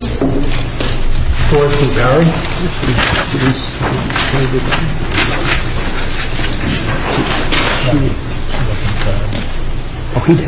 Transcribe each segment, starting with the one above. Forrest v. Barrow Forrest v. Barrow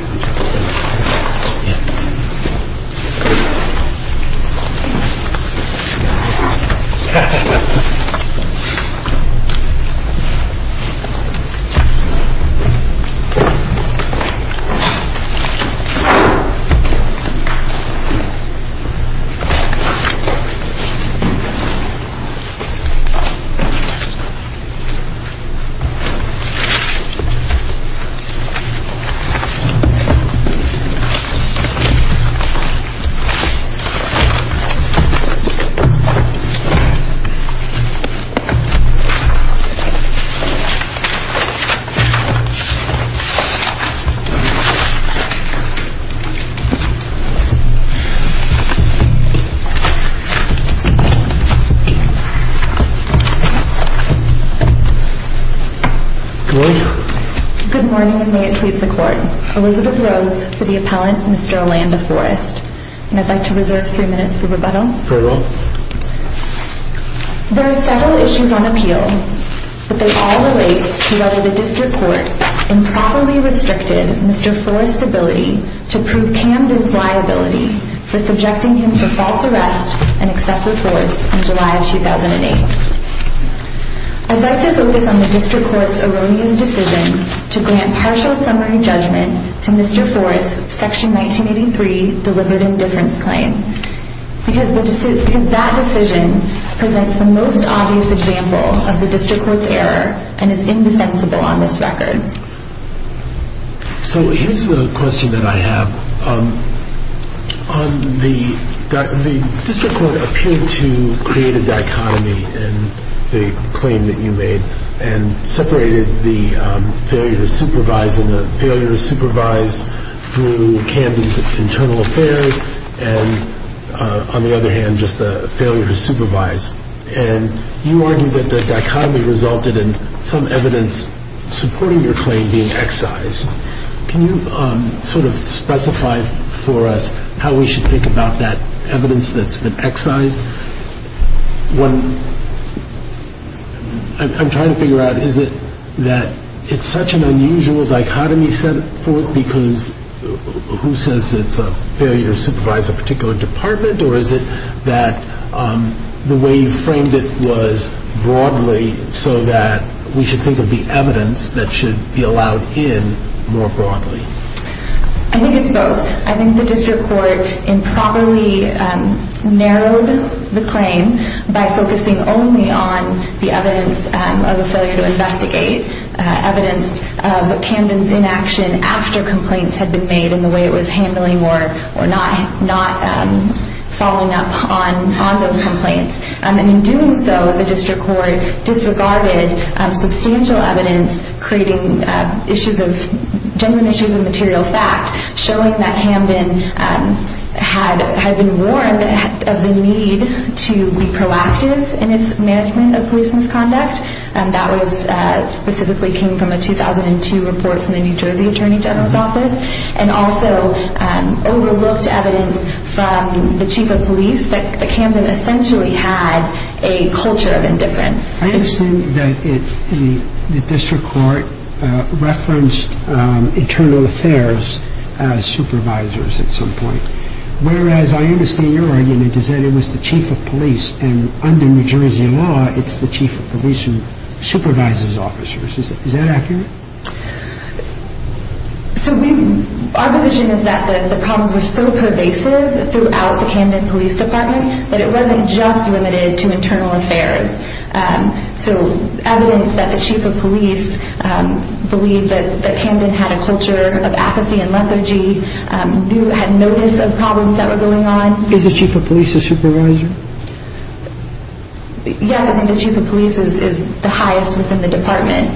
Good morning and may it please the court. Elizabeth Rose for the appellant Mr. Olanda Forrest and I'd like to reserve three minutes for rebuttal. Very well. There are several issues on appeal, but they all relate to whether the district court improperly restricted Mr. Forrest's ability to prove Camden's liability for subjecting him to false arrest and excessive force in July of 2008. I'd like to focus on the district court's erroneous decision to grant partial summary judgment to Mr. Forrest's Section 1983 Deliberative Indifference Claim because that decision presents the most obvious example of the district court's error and is indefensible on this record. So here's the question that I have. The district court appeared to create a dichotomy in the claim that you made and separated the failure to supervise and the failure to supervise through Camden's internal affairs and on the other hand just the failure to supervise. And you argue that the dichotomy resulted in some evidence supporting your claim being excised. Can you sort of specify for us how we should think about that evidence that's been excised? I'm trying to figure out is it that it's such an unusual dichotomy set forth because who says it's a failure to supervise a particular department or is it that the way you framed it was broadly so that we should think of the evidence that should be allowed in more broadly? I think it's both. I think the district court improperly narrowed the claim by focusing only on the evidence of a failure to investigate, evidence of Camden's inaction after complaints had been made and the way it was handling or not following up on those complaints. And in doing so, the district court disregarded substantial evidence creating genuine issues of material fact showing that Camden had been warned of the need to be proactive in its management of police misconduct. And that specifically came from a 2002 report from the New Jersey Attorney General's office and also overlooked evidence from the chief of police that Camden essentially had a culture of indifference. I understand that the district court referenced internal affairs as supervisors at some point, whereas I understand your argument is that it was the chief of police and under New Jersey law it's the chief of police who supervises officers. Is that accurate? So our position is that the problems were so pervasive throughout the Camden Police Department that it wasn't just limited to internal affairs. So evidence that the chief of police believed that Camden had a culture of apathy and lethargy, had notice of problems that were going on. Is the chief of police a supervisor? Yes, I think the chief of police is the highest within the department.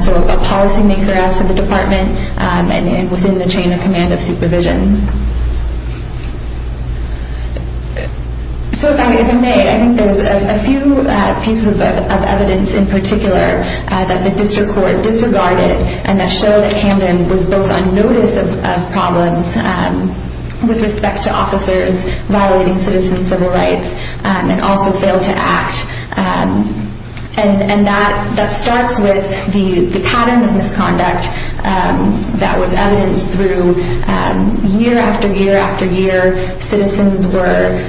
So a policy maker outside the department and within the chain of command of supervision. So if I may, I think there's a few pieces of evidence in particular that the district court disregarded and that showed that Camden was both on notice of problems with respect to officers violating citizen civil rights and also failed to act. And that starts with the pattern of misconduct that was evidenced through year after year after year. Citizens were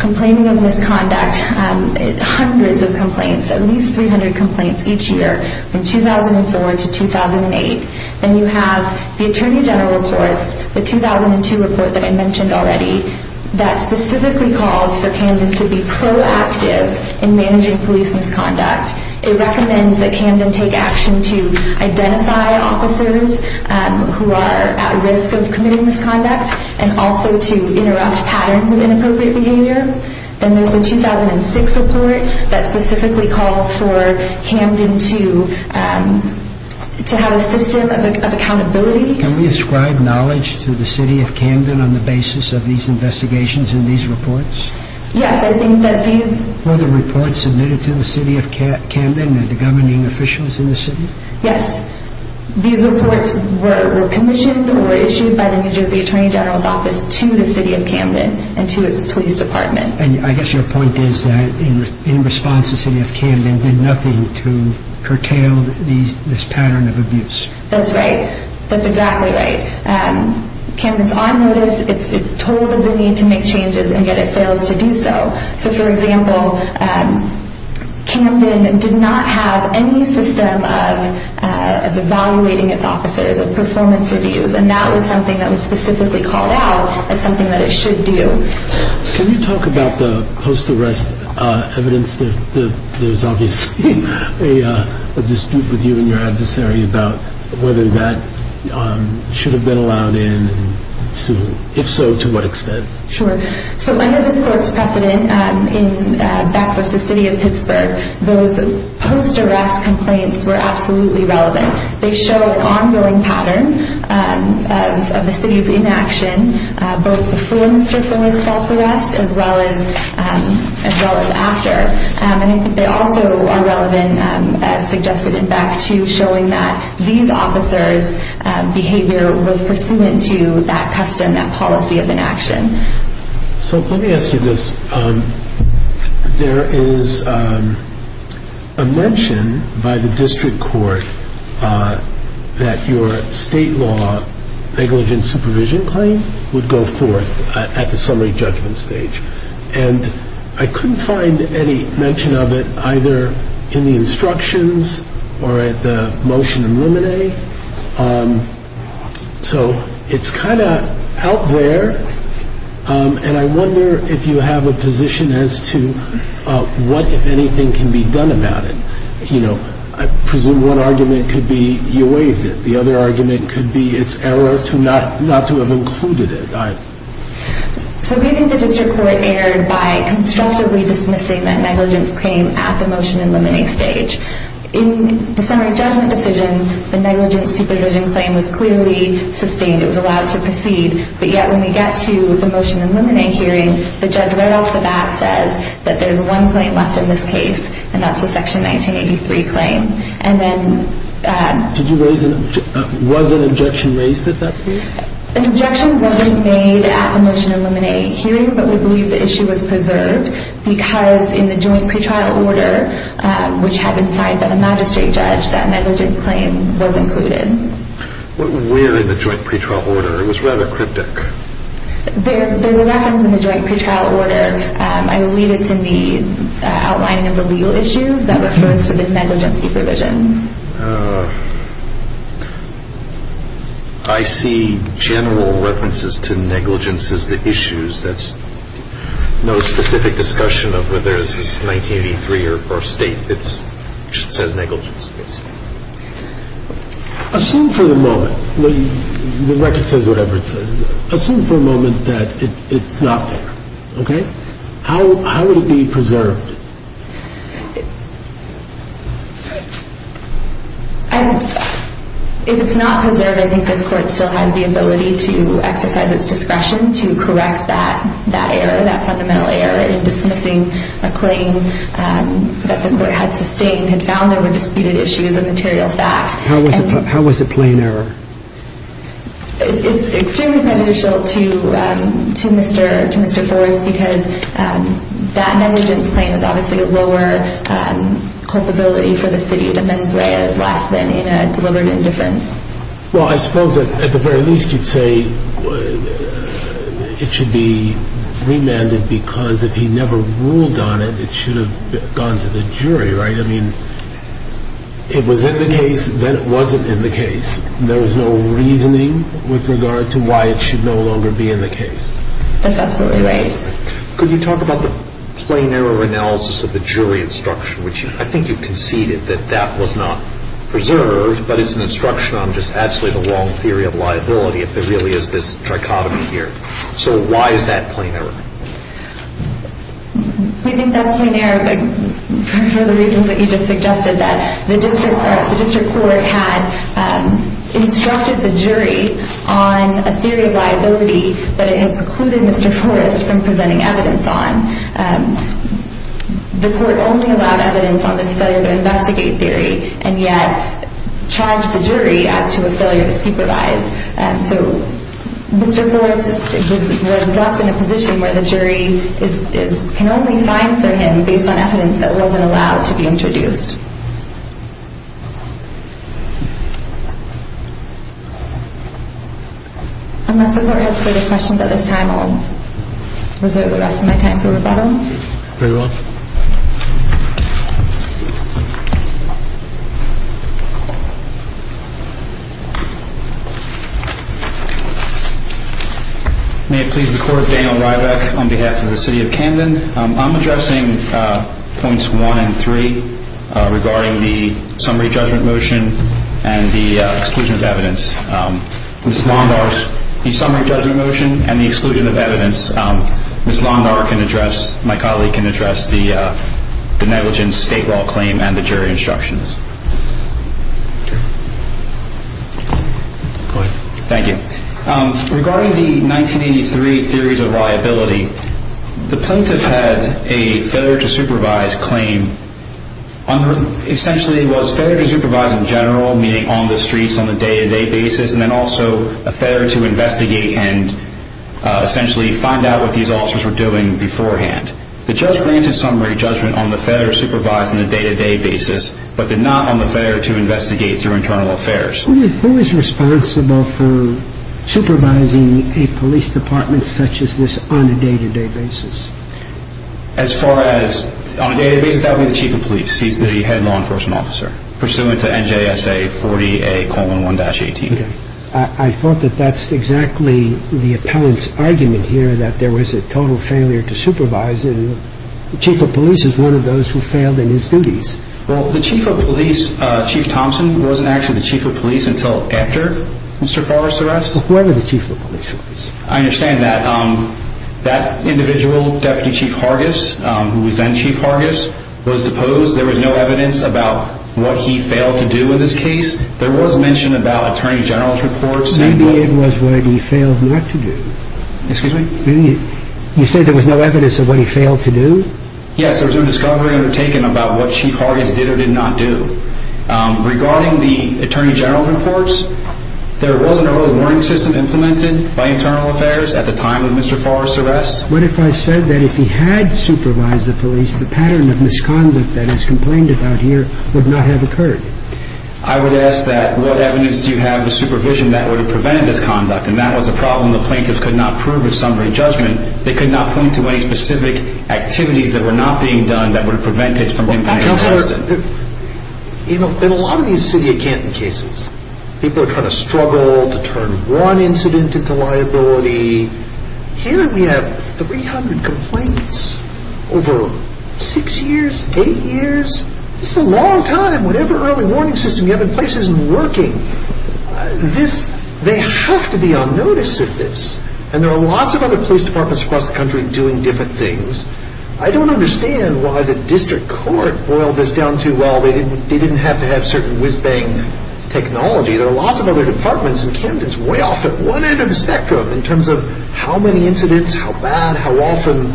complaining of misconduct, hundreds of complaints, at least 300 complaints each year from 2004 to 2008. Then you have the attorney general reports, the 2002 report that I mentioned already, that specifically calls for Camden to be proactive in managing police misconduct. It recommends that Camden take action to identify officers who are at risk of committing misconduct and also to interrupt patterns of inappropriate behavior. Then there's the 2006 report that specifically calls for Camden to have a system of accountability. Can we ascribe knowledge to the city of Camden on the basis of these investigations and these reports? Yes, I think that these... Were the reports submitted to the city of Camden and the governing officials in the city? Yes, these reports were commissioned or issued by the New Jersey Attorney General's office to the city of Camden and to its police department. And I guess your point is that in response the city of Camden did nothing to curtail this pattern of abuse. That's right. That's exactly right. Camden's on notice, it's told of the need to make changes and yet it fails to do so. So for example, Camden did not have any system of evaluating its officers, of performance reviews, and that was something that was specifically called out as something that it should do. Can you talk about the post-arrest evidence? There's obviously a dispute with you and your adversary about whether that should have been allowed in and if so, to what extent. Sure. So under this court's precedent, back with the city of Pittsburgh, those post-arrest complaints were absolutely relevant. They show an ongoing pattern of the city's inaction, both before Mr. Foerner's false arrest as well as after. And I think they also are relevant, as suggested in Beck, to showing that these officers' behavior was pursuant to that custom, that policy of inaction. So let me ask you this. There is a mention by the district court that your state law negligent supervision claim would go forth at the summary judgment stage. And I couldn't find any mention of it either in the instructions or at the motion in limine. So it's kind of out there and I wonder if you have a position as to what, if anything, can be done about it. I presume one argument could be you waived it. The other argument could be it's error not to have included it. So we think the district court erred by constructively dismissing that negligence claim at the motion in limine stage. In the summary judgment decision, the negligent supervision claim was clearly sustained. It was allowed to proceed. But yet when we get to the motion in limine hearing, the judge right off the bat says that there's one claim left in this case and that's the section 1983 claim. Was an objection raised at that hearing? An objection wasn't made at the motion in limine hearing, but we believe the issue was preserved because in the joint pretrial order, which had been signed by the magistrate judge, that negligence claim was included. Where in the joint pretrial order? It was rather cryptic. There's a reference in the joint pretrial order. I believe it's in the outlining of the legal issues that refers to the negligent supervision. I see general references to negligence as the issues. That's no specific discussion of whether this is 1983 or state. It just says negligence. Assume for the moment, the record says whatever it says, assume for a moment that it's not there. How would it be preserved? If it's not preserved, I think this court still has the ability to exercise its discretion to correct that error, dismissing a claim that the court had sustained, had found there were disputed issues of material fact. How was it plain error? It's extremely beneficial to Mr. Forrest because that negligence claim is obviously a lower culpability for the city. The mens rea is less than in a deliberate indifference. Well, I suppose at the very least you'd say it should be remanded because if he never ruled on it, it should have gone to the jury, right? I mean, it was in the case, then it wasn't in the case. There was no reasoning with regard to why it should no longer be in the case. That's absolutely right. Could you talk about the plain error analysis of the jury instruction, which I think you've conceded that that was not preserved, but it's an instruction on just absolutely the wrong theory of liability if there really is this trichotomy here. So why is that plain error? We think that's plain error for the reasons that you just suggested, that the district court had instructed the jury on a theory of liability that it had precluded Mr. Forrest from presenting evidence on. The court only allowed evidence on this failure to investigate theory and yet charged the jury as to a failure to supervise. So Mr. Forrest was left in a position where the jury can only find for him based on evidence that wasn't allowed to be introduced. Unless the court has further questions at this time, I'll reserve the rest of my time for rebuttal. Very well. May it please the court, Daniel Rybak on behalf of the city of Camden. I'm addressing points one and three regarding the summary judgment motion and the exclusion of evidence. Ms. Londar, the summary judgment motion and the exclusion of evidence. Ms. Londar can address, my colleague can address the negligence state law claim and the jury instructions. Thank you. Regarding the 1983 theories of liability, the plaintiff had a failure to supervise claim. Essentially it was failure to supervise in general, meaning on the streets, on a day-to-day basis, and then also a failure to investigate and essentially find out what these officers were doing beforehand. The judge granted summary judgment on the failure to supervise on a day-to-day basis, but did not on the failure to investigate through internal affairs. Who is responsible for supervising a police department such as this on a day-to-day basis? As far as on a day-to-day basis, that would be the chief of police. He's the head law enforcement officer, pursuant to NJSA 40A.11-18. Okay. I thought that that's exactly the appellant's argument here, that there was a total failure to supervise, and the chief of police is one of those who failed in his duties. Well, the chief of police, Chief Thompson, wasn't actually the chief of police until after Mr. Forrest's arrest. Well, whoever the chief of police was. I understand that. That individual, Deputy Chief Hargis, who was then Chief Hargis, was deposed. There was no evidence about what he failed to do in this case. There was mention about Attorney General's report saying that... Maybe it was what he failed not to do. Excuse me? You said there was no evidence of what he failed to do? Yes, there was no discovery undertaken about what Chief Hargis did or did not do. Regarding the Attorney General's reports, there wasn't a real warning system implemented by Internal Affairs at the time of Mr. Forrest's arrest. What if I said that if he had supervised the police, the pattern of misconduct that is complained about here would not have occurred? I would ask that what evidence do you have of supervision that would have prevented misconduct? And that was a problem the plaintiffs could not prove with summary judgment. They could not point to any specific activities that were not being done that would prevent it from being tested. In a lot of these city of Canton cases, people are trying to struggle to turn one incident into liability. Here we have 300 complaints over 6 years, 8 years. It's a long time. Whatever early warning system you have in place isn't working. They have to be on notice of this. And there are lots of other police departments across the country doing different things. I don't understand why the district court boiled this down to, well, they didn't have to have certain whiz-bang technology. There are lots of other departments, and Camden is way off at one end of the spectrum in terms of how many incidents, how bad, how often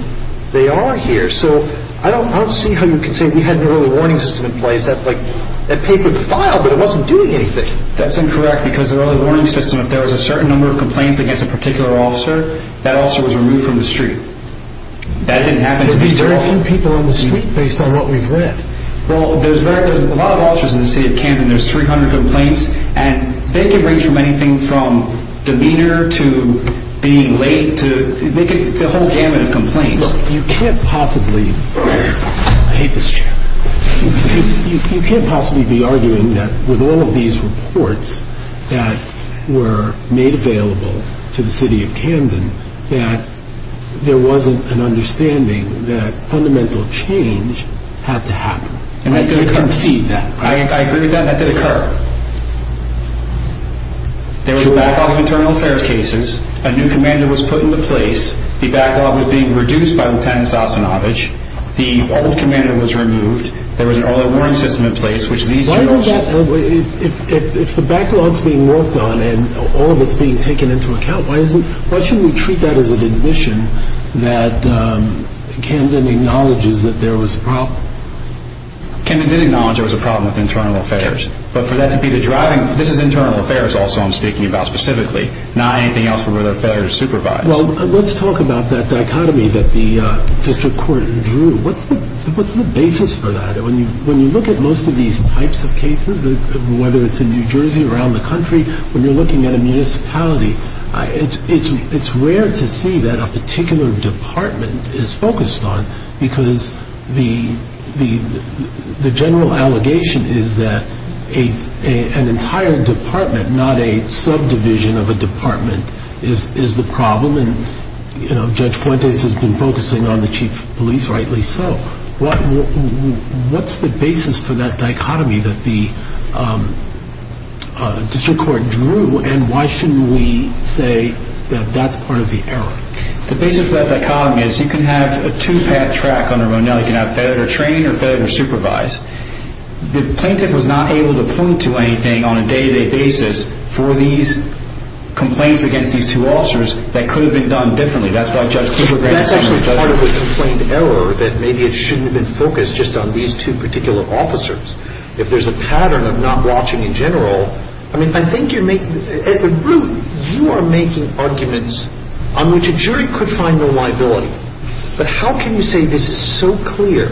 they are here. So I don't see how you can say we had an early warning system in place. That paper filed, but it wasn't doing anything. That's incorrect, because an early warning system, if there was a certain number of complaints against a particular officer, that officer was removed from the street. That didn't happen to be too often. There's very few people on the street based on what we've read. Well, there's a lot of officers in the city of Camden. There's 300 complaints, and they can range from anything from demeanor to being late, the whole gamut of complaints. You can't possibly be arguing that with all of these reports that were made available to the city of Camden that there wasn't an understanding that fundamental change had to happen. And I didn't concede that. I agree with that, and that did occur. There was a backlog of internal affairs cases. A new commander was put into place. The backlog was being reduced by Lieutenant Sosinovich. The old commander was removed. There was an early warning system in place, which these two officers... If the backlog's being worked on and all of it's being taken into account, why shouldn't we treat that as an admission that Camden acknowledges that there was a problem? Camden did acknowledge there was a problem with internal affairs. But for that to be the driving... This is internal affairs also I'm speaking about specifically, not anything else where the affairs are supervised. Well, let's talk about that dichotomy that the district court drew. What's the basis for that? When you look at most of these types of cases, whether it's in New Jersey, around the country, when you're looking at a municipality, it's rare to see that a particular department is focused on because the general allegation is that an entire department, not a subdivision of a department, is the problem. And Judge Fuentes has been focusing on the chief of police, rightly so. What's the basis for that dichotomy that the district court drew, and why shouldn't we say that that's part of the error? The basis of that dichotomy is you can have a two-path track under Ronell. You can have fed or trained or fed or supervised. The plaintiff was not able to point to anything on a day-to-day basis for these complaints against these two officers that could have been done differently. That's why Judge Cooper... But that's actually part of the complaint error, that maybe it shouldn't have been focused just on these two particular officers. If there's a pattern of not watching in general, I mean, I think you're making... At the root, you are making arguments on which a jury could find no liability. But how can you say this is so clear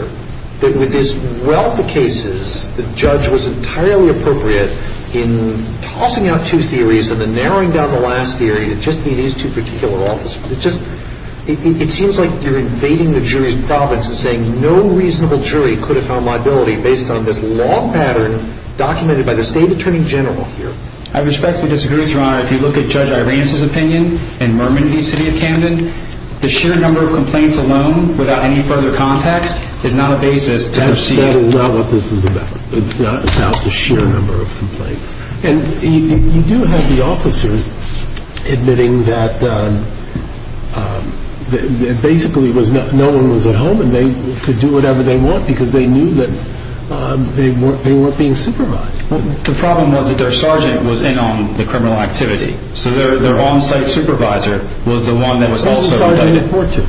that with this wealth of cases, the judge was entirely appropriate in tossing out two theories and then narrowing down the last theory to just be these two particular officers? It seems like you're invading the jury's province and saying no reasonable jury could have found liability based on this long pattern documented by the state attorney general here. I respectfully disagree, Your Honor. If you look at Judge Irance's opinion in Mermin v. City of Camden, the sheer number of complaints alone without any further context is not a basis to... That is not what this is about. It's not about the sheer number of complaints. And you do have the officers admitting that basically no one was at home and they could do whatever they want because they knew that they weren't being supervised. The problem was that their sergeant was in on the criminal activity. So their on-site supervisor was the one that was also... Who's the sergeant report to?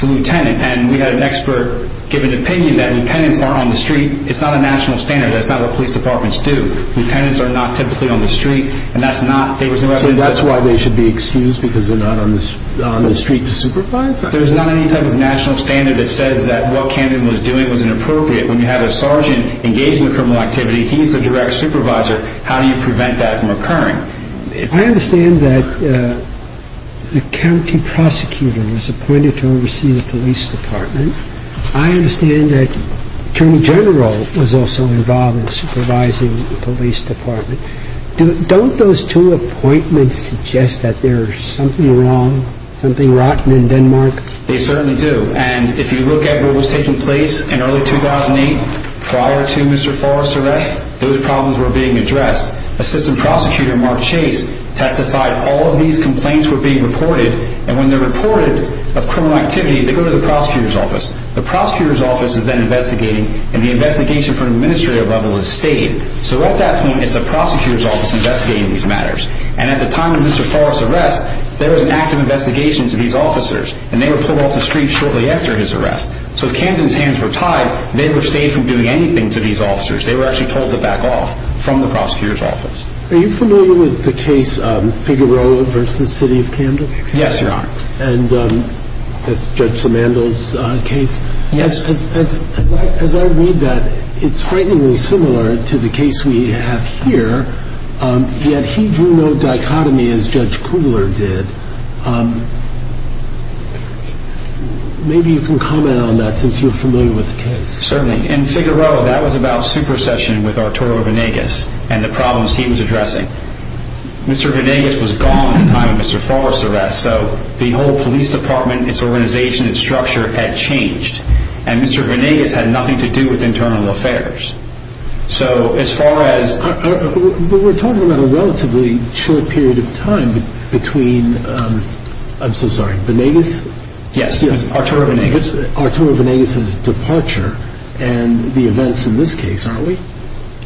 The lieutenant. And we had an expert give an opinion that lieutenants aren't on the street. It's not a national standard. That's not what police departments do. Lieutenants are not typically on the street, and that's not... So that's why they should be excused because they're not on the street to supervise? There's not any type of national standard that says that what Camden was doing was inappropriate. When you have a sergeant engaged in a criminal activity, he's the direct supervisor. How do you prevent that from occurring? I understand that the county prosecutor was appointed to oversee the police department. I understand that the attorney general was also involved in supervising the police department. Don't those two appointments suggest that there's something wrong, something rotten in Denmark? They certainly do, and if you look at what was taking place in early 2008 prior to Mr. Forrest's arrest, those problems were being addressed. Assistant prosecutor Mark Chase testified all of these complaints were being reported, and when they're reported of criminal activity, they go to the prosecutor's office. The prosecutor's office is then investigating, and the investigation from an administrative level has stayed. So at that point, it's the prosecutor's office investigating these matters. And at the time of Mr. Forrest's arrest, there was an active investigation to these officers, and they were pulled off the street shortly after his arrest. So if Camden's hands were tied, they were stayed from doing anything to these officers. They were actually told to back off from the prosecutor's office. Are you familiar with the case Figueroa v. City of Camden? Yes, Your Honor. And Judge Simandl's case? Yes. As I read that, it's frighteningly similar to the case we have here, yet he drew no dichotomy as Judge Kugler did. Maybe you can comment on that since you're familiar with the case. Certainly. In Figueroa, that was about supersession with Arturo Venegas and the problems he was addressing. Mr. Venegas was gone at the time of Mr. Forrest's arrest, so the whole police department, its organization, its structure had changed, and Mr. Venegas had nothing to do with internal affairs. So as far as— We're talking about a relatively short period of time between—I'm so sorry, Venegas? Yes, Arturo Venegas. It's Arturo Venegas' departure and the events in this case, aren't we?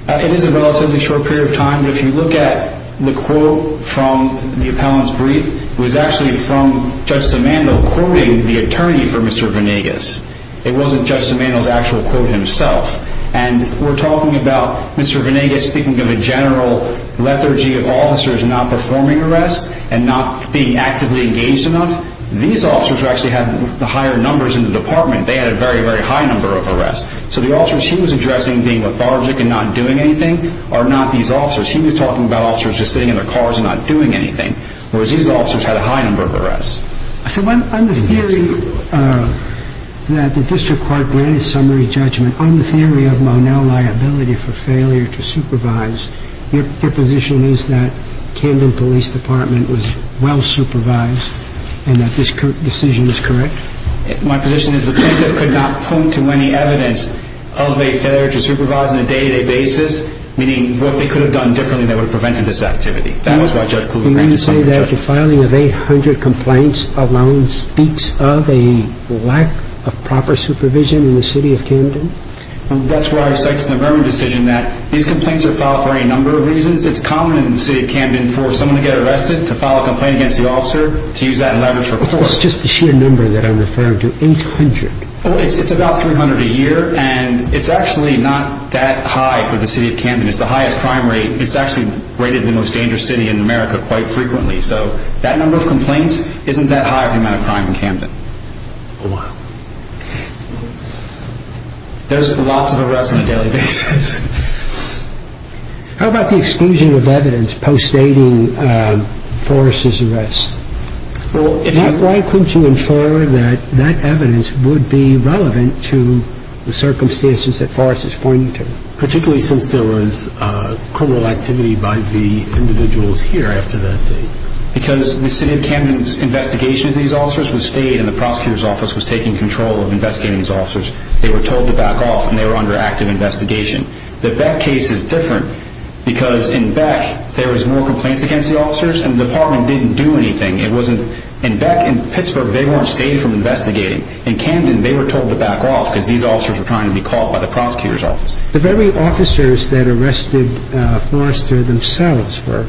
It is a relatively short period of time. If you look at the quote from the appellant's brief, it was actually from Judge Simandl quoting the attorney for Mr. Venegas. It wasn't Judge Simandl's actual quote himself. And we're talking about Mr. Venegas speaking of a general lethargy of officers not performing arrests and not being actively engaged enough. These officers actually had the higher numbers in the department. They had a very, very high number of arrests. So the officers he was addressing being lethargic and not doing anything are not these officers. He was talking about officers just sitting in their cars and not doing anything, whereas these officers had a high number of arrests. So on the theory that the district court granted summary judgment, on the theory of Monell liability for failure to supervise, your position is that Camden Police Department was well supervised and that this decision is correct? My position is the plaintiff could not point to any evidence of a failure to supervise on a day-to-day basis, meaning what they could have done differently that would have prevented this activity. That was why Judge Kluge granted summary judgment. Do you mean to say that the filing of 800 complaints alone speaks of a lack of proper supervision in the city of Camden? That's where I cite the Murman decision that these complaints are filed for a number of reasons. It's common in the city of Camden for someone to get arrested to file a complaint against the officer to use that leverage for court. It's just the sheer number that I'm referring to, 800. It's about 300 a year and it's actually not that high for the city of Camden. It's the highest crime rate. It's actually rated the most dangerous city in America quite frequently. So that number of complaints isn't that high for the amount of crime in Camden. Wow. There's lots of arrests on a daily basis. How about the exclusion of evidence post-dating Forrest's arrest? Why couldn't you infer that that evidence would be relevant to the circumstances that Forrest is pointing to? Particularly since there was criminal activity by the individuals here after that date. Because the city of Camden's investigation of these officers was stayed and the prosecutor's office was taking control of investigating these officers. They were told to back off and they were under active investigation. The Beck case is different because in Beck there was more complaints against the officers and the department didn't do anything. In Beck and Pittsburgh, they weren't stayed from investigating. In Camden, they were told to back off because these officers were trying to be caught by the prosecutor's office. The very officers that arrested Forrester themselves were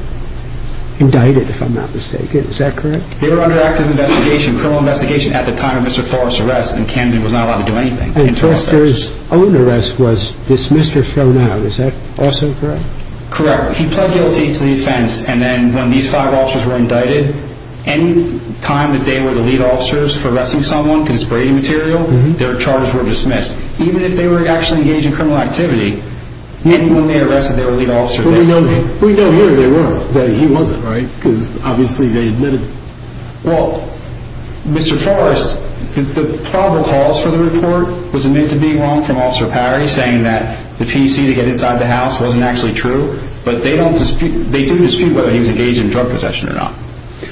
indicted, if I'm not mistaken. Is that correct? They were under active investigation, criminal investigation, at the time of Mr. Forrest's arrest and Camden was not allowed to do anything. And Forrester's own arrest was dismissed or thrown out. Is that also correct? Correct. He pled guilty to the offense. And then when these five officers were indicted, any time that they were the lead officers for arresting someone because it's Brady material, their charges were dismissed. Even if they were actually engaged in criminal activity, when they arrested their lead officer... But we know here they were, but he wasn't, right? Because obviously they admitted... Well, Mr. Forrest, the probable cause for the report was admitted to being wrong from Officer Parry, saying that the PC to get inside the house wasn't actually true, but they do dispute whether he was engaged in drug possession or not.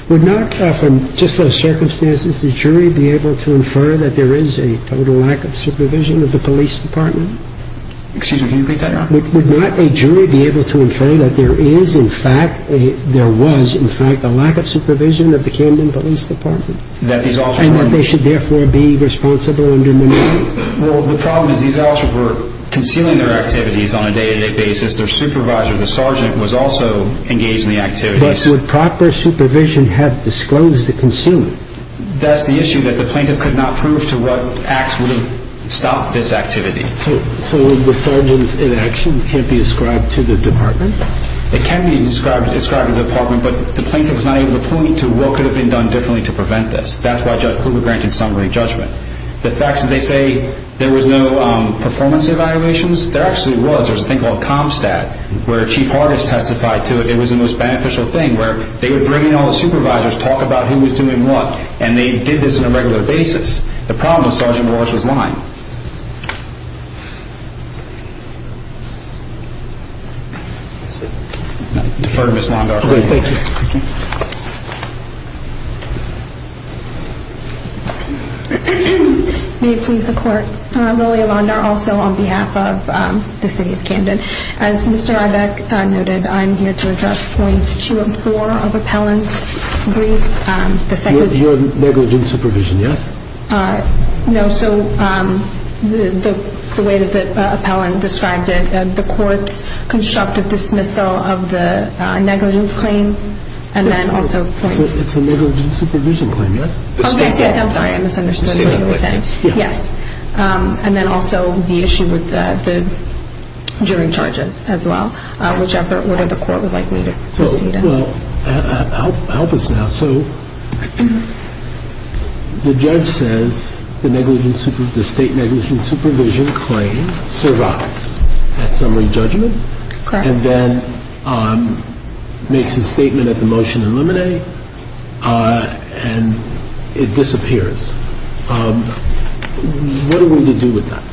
Would not, from just those circumstances, the jury be able to infer that there is a total lack of supervision of the police department? Excuse me, can you repeat that, Your Honor? Would not a jury be able to infer that there is, in fact, a lack of supervision of the Camden Police Department? And that they should therefore be responsible under minority? Well, the problem is these officers were concealing their activities on a day-to-day basis. Their supervisor, the sergeant, was also engaged in the activities. But would proper supervision have disclosed the concealment? That's the issue, that the plaintiff could not prove to what acts would have stopped this activity. So the sergeant's inaction can't be ascribed to the department? It can be ascribed to the department, but the plaintiff was not able to point to what could have been done differently to prevent this. That's why Judge Kluge granted summary judgment. The facts that they say there was no performance evaluations, there actually was. There was a thing called ComStat, where Chief Hargis testified to it. It was the most beneficial thing, where they would bring in all the supervisors, talk about who was doing what, and they did this on a regular basis. The problem is Sergeant Morris was lying. Defer to Ms. Londar. Great, thank you. May it please the Court, Lily Londar, also on behalf of the city of Camden. As Mr. Ibeck noted, I'm here to address point two and four of Appellant's brief. Your negligent supervision, yes? No, so the way that Appellant described it, the Court's constructive dismissal of the negligence claim, and then also point— It's a negligent supervision claim, yes? Oh, yes, yes, I'm sorry, I misunderstood what you were saying. Yes, and then also the issue with the jury charges as well, whichever order the Court would like me to proceed in. Well, help us now. So the judge says the state negligent supervision claim survives at summary judgment, and then makes a statement at the motion in limine, and it disappears. What are we to do with that?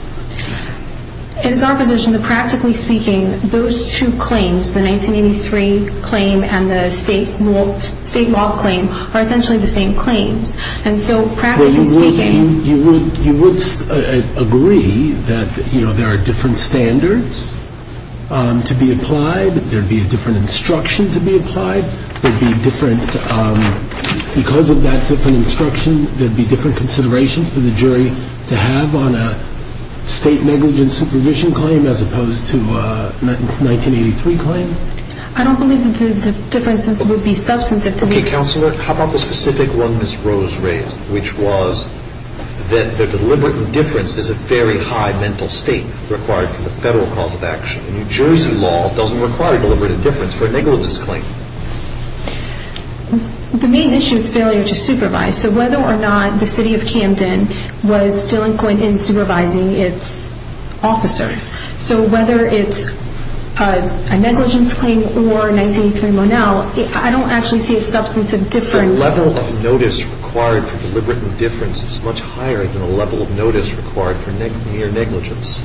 It is our position that practically speaking, those two claims, the 1983 claim and the state mock claim, are essentially the same claims. And so practically speaking— You would agree that there are different standards to be applied, there would be a different instruction to be applied, there would be different—because of that different instruction, there would be different considerations for the jury to have on a state negligent supervision claim as opposed to a 1983 claim? I don't believe that the differences would be substantive to these— Okay, Counselor, how about the specific one Ms. Rose raised, which was that the deliberate indifference is a very high mental state required for the federal cause of action. New Jersey law doesn't require deliberate indifference for a negligence claim. The main issue is failure to supervise. So whether or not the city of Camden was delinquent in supervising its officers. So whether it's a negligence claim or 1983 Monel, I don't actually see a substantive difference— The level of notice required for deliberate indifference is much higher than the level of notice required for mere negligence.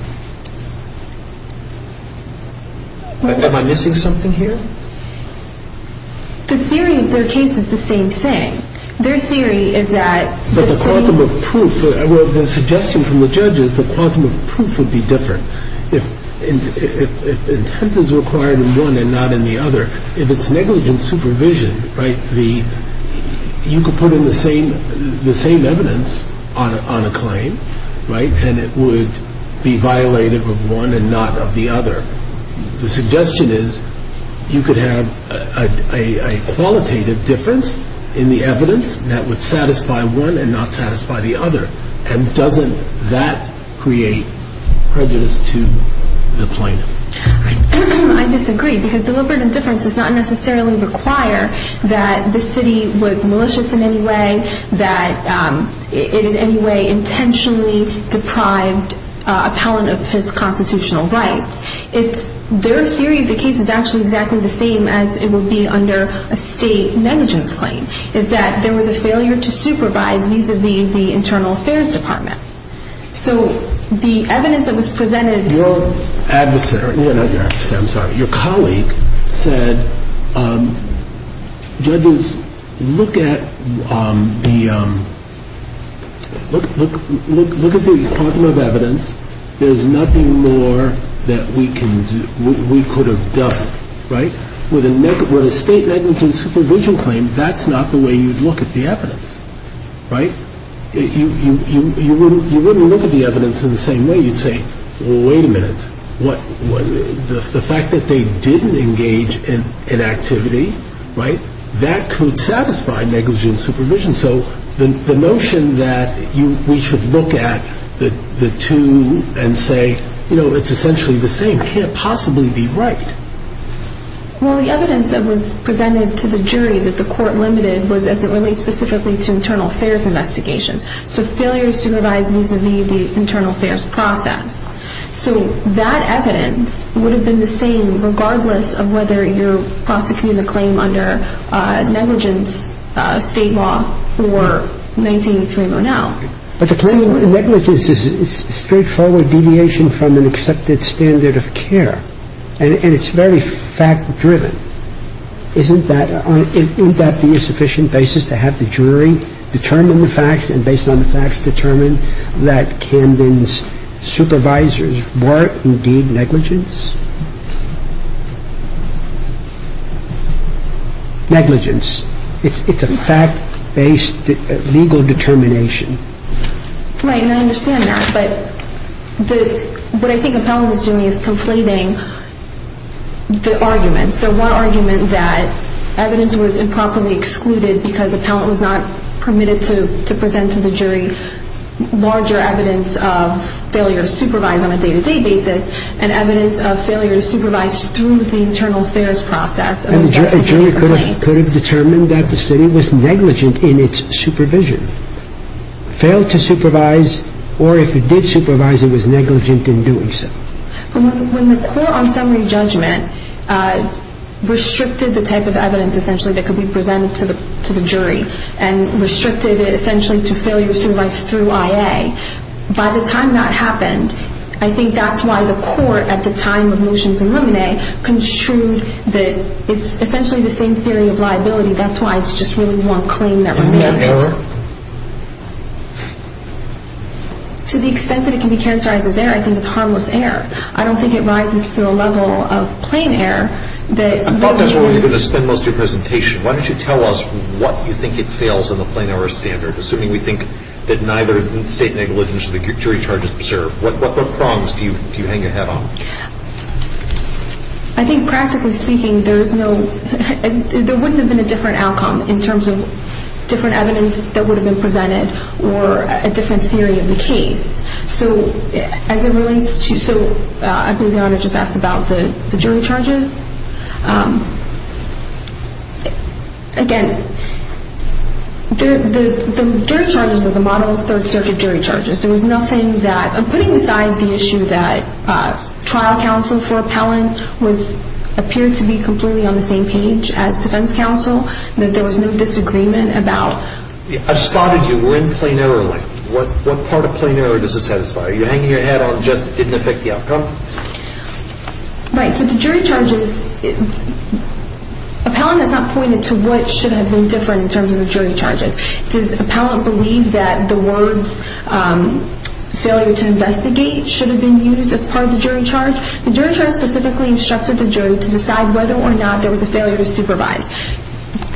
Am I missing something here? The theory of their case is the same thing. Their theory is that the same— But the quantum of proof—well, the suggestion from the judge is the quantum of proof would be different. If intent is required in one and not in the other, if it's negligent supervision, right, you could put in the same evidence on a claim, right, and it would be violated of one and not of the other. The suggestion is you could have a qualitative difference in the evidence that would satisfy one and not satisfy the other. And doesn't that create prejudice to the plaintiff? I disagree because deliberate indifference does not necessarily require that the city was malicious in any way, that it in any way intentionally deprived appellant of his constitutional rights. Their theory of the case is actually exactly the same as it would be under a state negligence claim, is that there was a failure to supervise vis-à-vis the Internal Affairs Department. So the evidence that was presented— Your colleague said, Judges, look at the quantum of evidence. There's nothing more that we could have done, right? With a state negligence supervision claim, that's not the way you'd look at the evidence, right? You wouldn't look at the evidence in the same way. You'd say, well, wait a minute, the fact that they didn't engage in activity, right, that could satisfy negligent supervision. So the notion that we should look at the two and say, you know, it's essentially the same, can't possibly be right. Well, the evidence that was presented to the jury that the court limited was as it relates specifically to internal affairs investigations. So failure to supervise vis-à-vis the internal affairs process. So that evidence would have been the same regardless of whether you're prosecuting the claim under negligence state law or 19-3-0-now. But the claim of negligence is a straightforward deviation from an accepted standard of care, and it's very fact-driven. Isn't that the sufficient basis to have the jury determine the facts and based on the facts determine that Camden's supervisors were indeed negligence? Negligence. It's a fact-based legal determination. Right, and I understand that. But what I think Appellant is doing is conflating the arguments. The one argument that evidence was improperly excluded because Appellant was not permitted to present to the jury larger evidence of failure to supervise on a day-to-day basis and evidence of failure to supervise through the internal affairs process. And the jury could have determined that the city was negligent in its supervision, failed to supervise, or if it did supervise, it was negligent in doing so. When the court on summary judgment restricted the type of evidence, essentially, that could be presented to the jury and restricted it, essentially, to failure to supervise through IA, by the time that happened, I think that's why the court at the time of motions in limine construed that it's essentially the same theory of liability. That's why it's just really one claim that remains. Isn't that error? To the extent that it can be characterized as error, I think it's harmless error. I don't think it rises to the level of plain error that... I thought that's where we were going to spend most of your presentation. Why don't you tell us what you think it fails in the plain error standard, assuming we think that neither state negligence or the jury charge is preserved. What prongs do you hang your head on? I think practically speaking, there is no... There wouldn't have been a different outcome in terms of different evidence that would have been presented or a different theory of the case. As it relates to... I believe Yonah just asked about the jury charges. Again, the jury charges are the model of Third Circuit jury charges. There was nothing that... Putting aside the issue that trial counsel for appellant appeared to be completely on the same page as defense counsel, that there was no disagreement about... I've spotted you. We're in plain error lane. What part of plain error does it satisfy? Are you hanging your head on just it didn't affect the outcome? Right. So the jury charges... Appellant has not pointed to what should have been different in terms of the jury charges. Does appellant believe that the words failure to investigate should have been used as part of the jury charge? The jury charge specifically instructed the jury to decide whether or not there was a failure to supervise.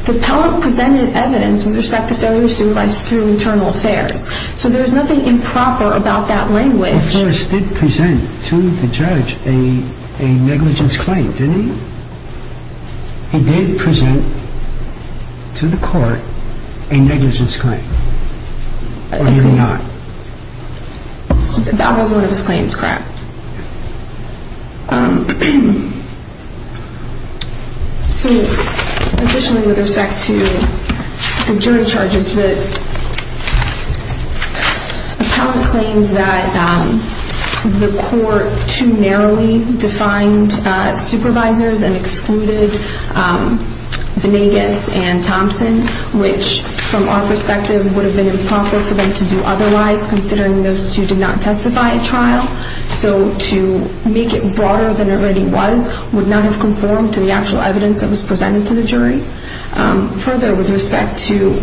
The appellant presented evidence with respect to failure to supervise through internal affairs. So there's nothing improper about that language. But Flores did present to the judge a negligence claim, didn't he? He did present to the court a negligence claim. Or did he not? That was one of his claims, correct. So additionally with respect to the jury charges, the appellant claims that the court too narrowly defined supervisors and excluded Venegas and Thompson, which from our perspective would have been improper for them to do otherwise considering those two did not testify at trial. So to make it broader than it already was would not have conformed to the actual evidence that was presented to the jury. Further, with respect to...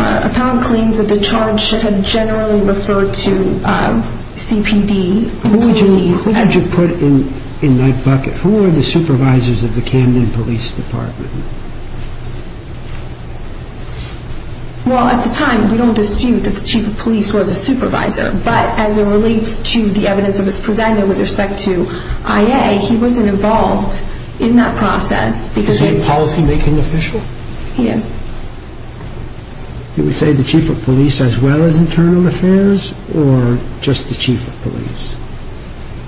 Appellant claims that the charge should have generally referred to CPD. Who would you put in that bucket? Who are the supervisors of the Camden Police Department? Well, at the time we don't dispute that the chief of police was a supervisor. But as it relates to the evidence that was presented with respect to IA, he wasn't involved in that process. Is he a policymaking official? He is. You would say the chief of police as well as internal affairs or just the chief of police?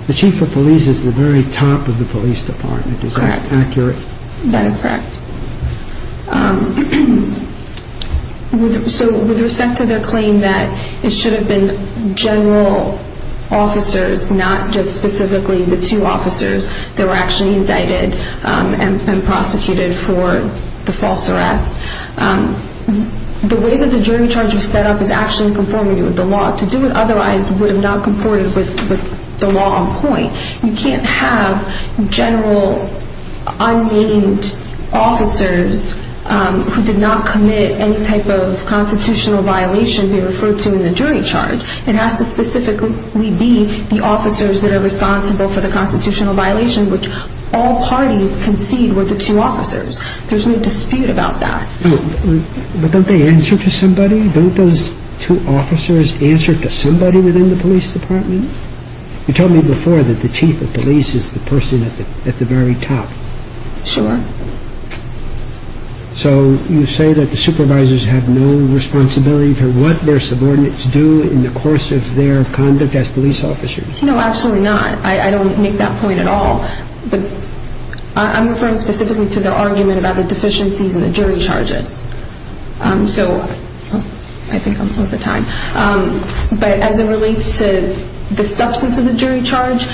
The chief of police is the very top of the police department. Is that accurate? That is correct. So with respect to their claim that it should have been general officers, not just specifically the two officers that were actually indicted and prosecuted for the false arrest, the way that the jury charge was set up was actually in conformity with the law. To do it otherwise would have not comported with the law on point. You can't have general, unnamed officers who did not commit any type of constitutional violation be referred to in the jury charge. It has to specifically be the officers that are responsible for the constitutional violation, which all parties concede were the two officers. There's no dispute about that. But don't they answer to somebody? Don't those two officers answer to somebody within the police department? You told me before that the chief of police is the person at the very top. Sure. So you say that the supervisors have no responsibility for what their subordinates do in the course of their conduct as police officers? No, absolutely not. I don't make that point at all. I'm referring specifically to their argument about the deficiencies in the jury charges. So I think I'm over time. But as it relates to the substance of the jury charge,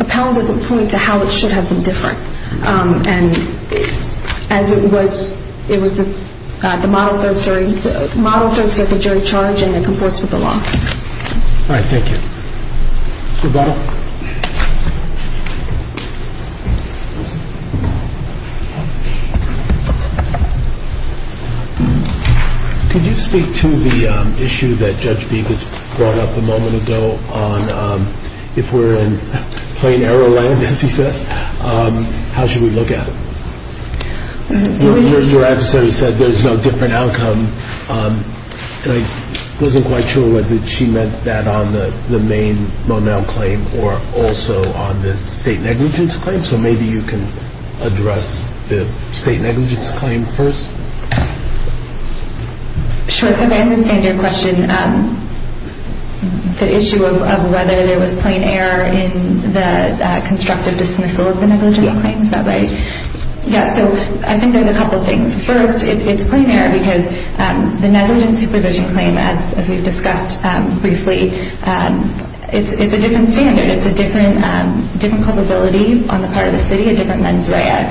Appell doesn't point to how it should have been different. And as it was, it was the model third circuit jury charge and it comports with the law. All right, thank you. Mr. Bell? Could you speak to the issue that Judge Beeb has brought up a moment ago on if we're in plain arrow land, as he says, how should we look at it? Your adversary said there's no different outcome. And I wasn't quite sure whether she meant that on the main Monell claim or also on the state negligence claim. So maybe you can address the state negligence claim first. Sure. So I understand your question, the issue of whether there was plain error in the constructive dismissal of the negligence claim. Is that right? Yeah. Yeah, so I think there's a couple things. First, it's plain error because the negligence supervision claim, as we've discussed briefly, it's a different standard. It's a different culpability on the part of the city, a different mens rea.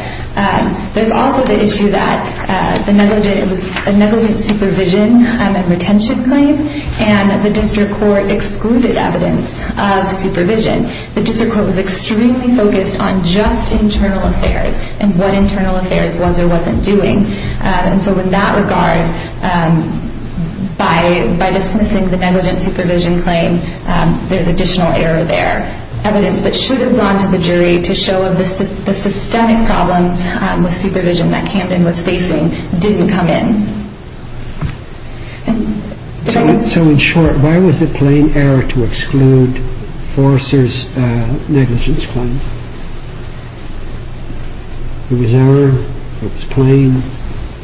There's also the issue that the negligence supervision and retention claim and the district court excluded evidence of supervision. The district court was extremely focused on just internal affairs and what internal affairs was or wasn't doing. And so in that regard, by dismissing the negligence supervision claim, there's additional error there. Evidence that should have gone to the jury to show the systemic problems with supervision that Camden was facing didn't come in. So in short, why was it plain error to exclude Forrester's negligence claim? It was error. It was plain.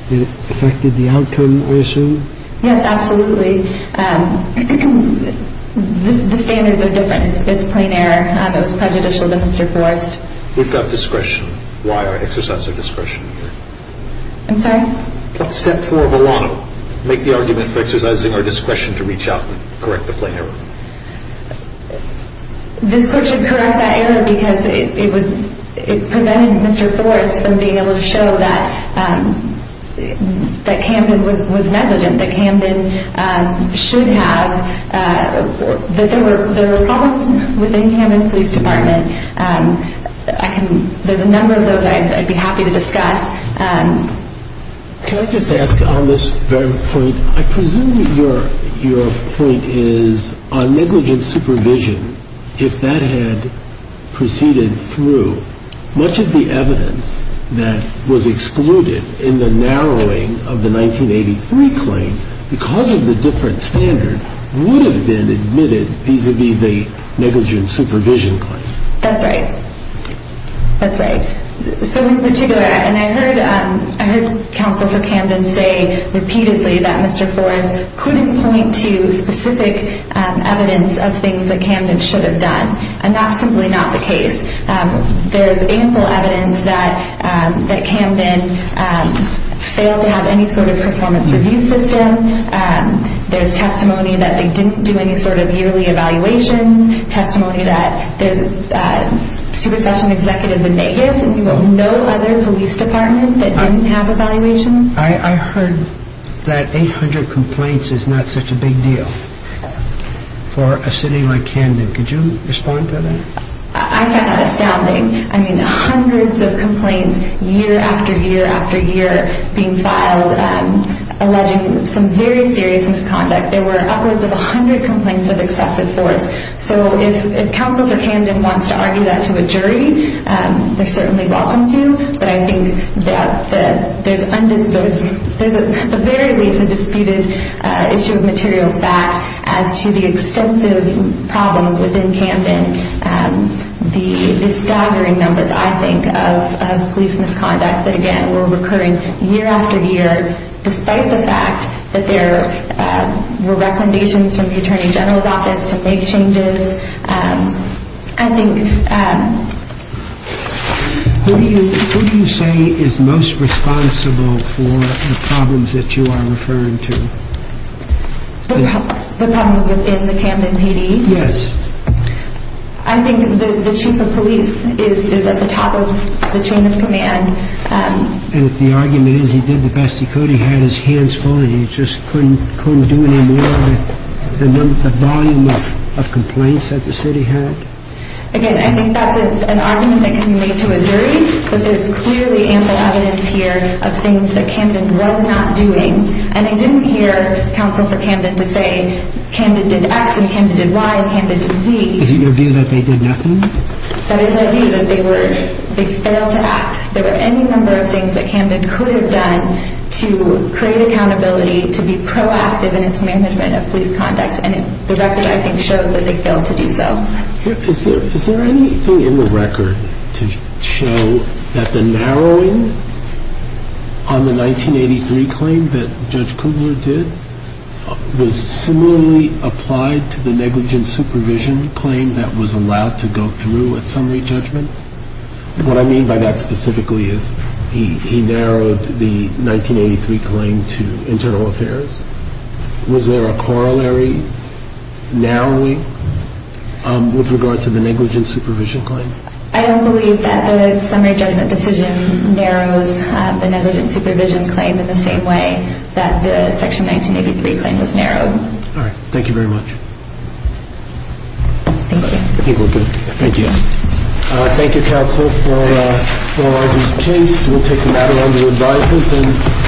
It affected the outcome, I assume. Yes, absolutely. The standards are different. It's plain error. It was prejudicial to Mr. Forrest. We've got discretion. Why exercise our discretion? I'm sorry? Step four of a lot of them, make the argument for exercising our discretion to reach out and correct the plain error. This court should correct that error because it prevented Mr. Forrest from being able to show that Camden was negligent, that Camden should have, that there were problems within Camden Police Department. There's a number of those I'd be happy to discuss. Can I just ask on this very point, I presume your point is on negligent supervision, if that had proceeded through, much of the evidence that was excluded in the narrowing of the 1983 claim because of the different standard would have been admitted vis-à-vis the negligent supervision claim. That's right. That's right. So in particular, and I heard Counsel for Camden say repeatedly that Mr. Forrest couldn't point to specific evidence of things that Camden should have done, and that's simply not the case. There's ample evidence that Camden failed to have any sort of performance review system. There's testimony that they didn't do any sort of yearly evaluations, testimony that there's a super session executive in Vegas and no other police department that didn't have evaluations. I heard that 800 complaints is not such a big deal for a city like Camden. Could you respond to that? I find that astounding. I mean, hundreds of complaints year after year after year being filed alleging some very serious misconduct. There were upwards of 100 complaints of excessive force. So if Counsel for Camden wants to argue that to a jury, they're certainly welcome to, but I think that there's at the very least a disputed issue of material fact as to the extensive problems within Camden, the staggering numbers, I think, of police misconduct that, again, were recurring year after year despite the fact that there were recommendations from the Attorney General's Office to make changes. I think... Who do you say is most responsible for the problems that you are referring to? The problems within the Camden PD? Yes. I think the Chief of Police is at the top of the chain of command. And if the argument is he did the best he could, he had his hands full, and he just couldn't do any more with the volume of complaints that the city had? Again, I think that's an argument that can be made to a jury, but there's clearly ample evidence here of things that Camden was not doing. And I didn't hear Counsel for Camden to say Camden did X and Camden did Y and Camden did Z. Is it your view that they did nothing? That is my view that they failed to act. There were any number of things that Camden could have done to create accountability, to be proactive in its management of police conduct, and the record, I think, shows that they failed to do so. Is there anything in the record to show that the narrowing on the 1983 claim that Judge Kudler did was similarly applied to the negligent supervision claim that was allowed to go through at summary judgment? What I mean by that specifically is he narrowed the 1983 claim to internal affairs. Was there a corollary narrowing with regard to the negligent supervision claim? I don't believe that the summary judgment decision narrows the negligent supervision claim in the same way that the Section 1983 claim was narrowed. All right. Thank you very much. Thank you. I think we're good. Thank you. Thank you, counsel, for the case. We'll take the matter under advisement.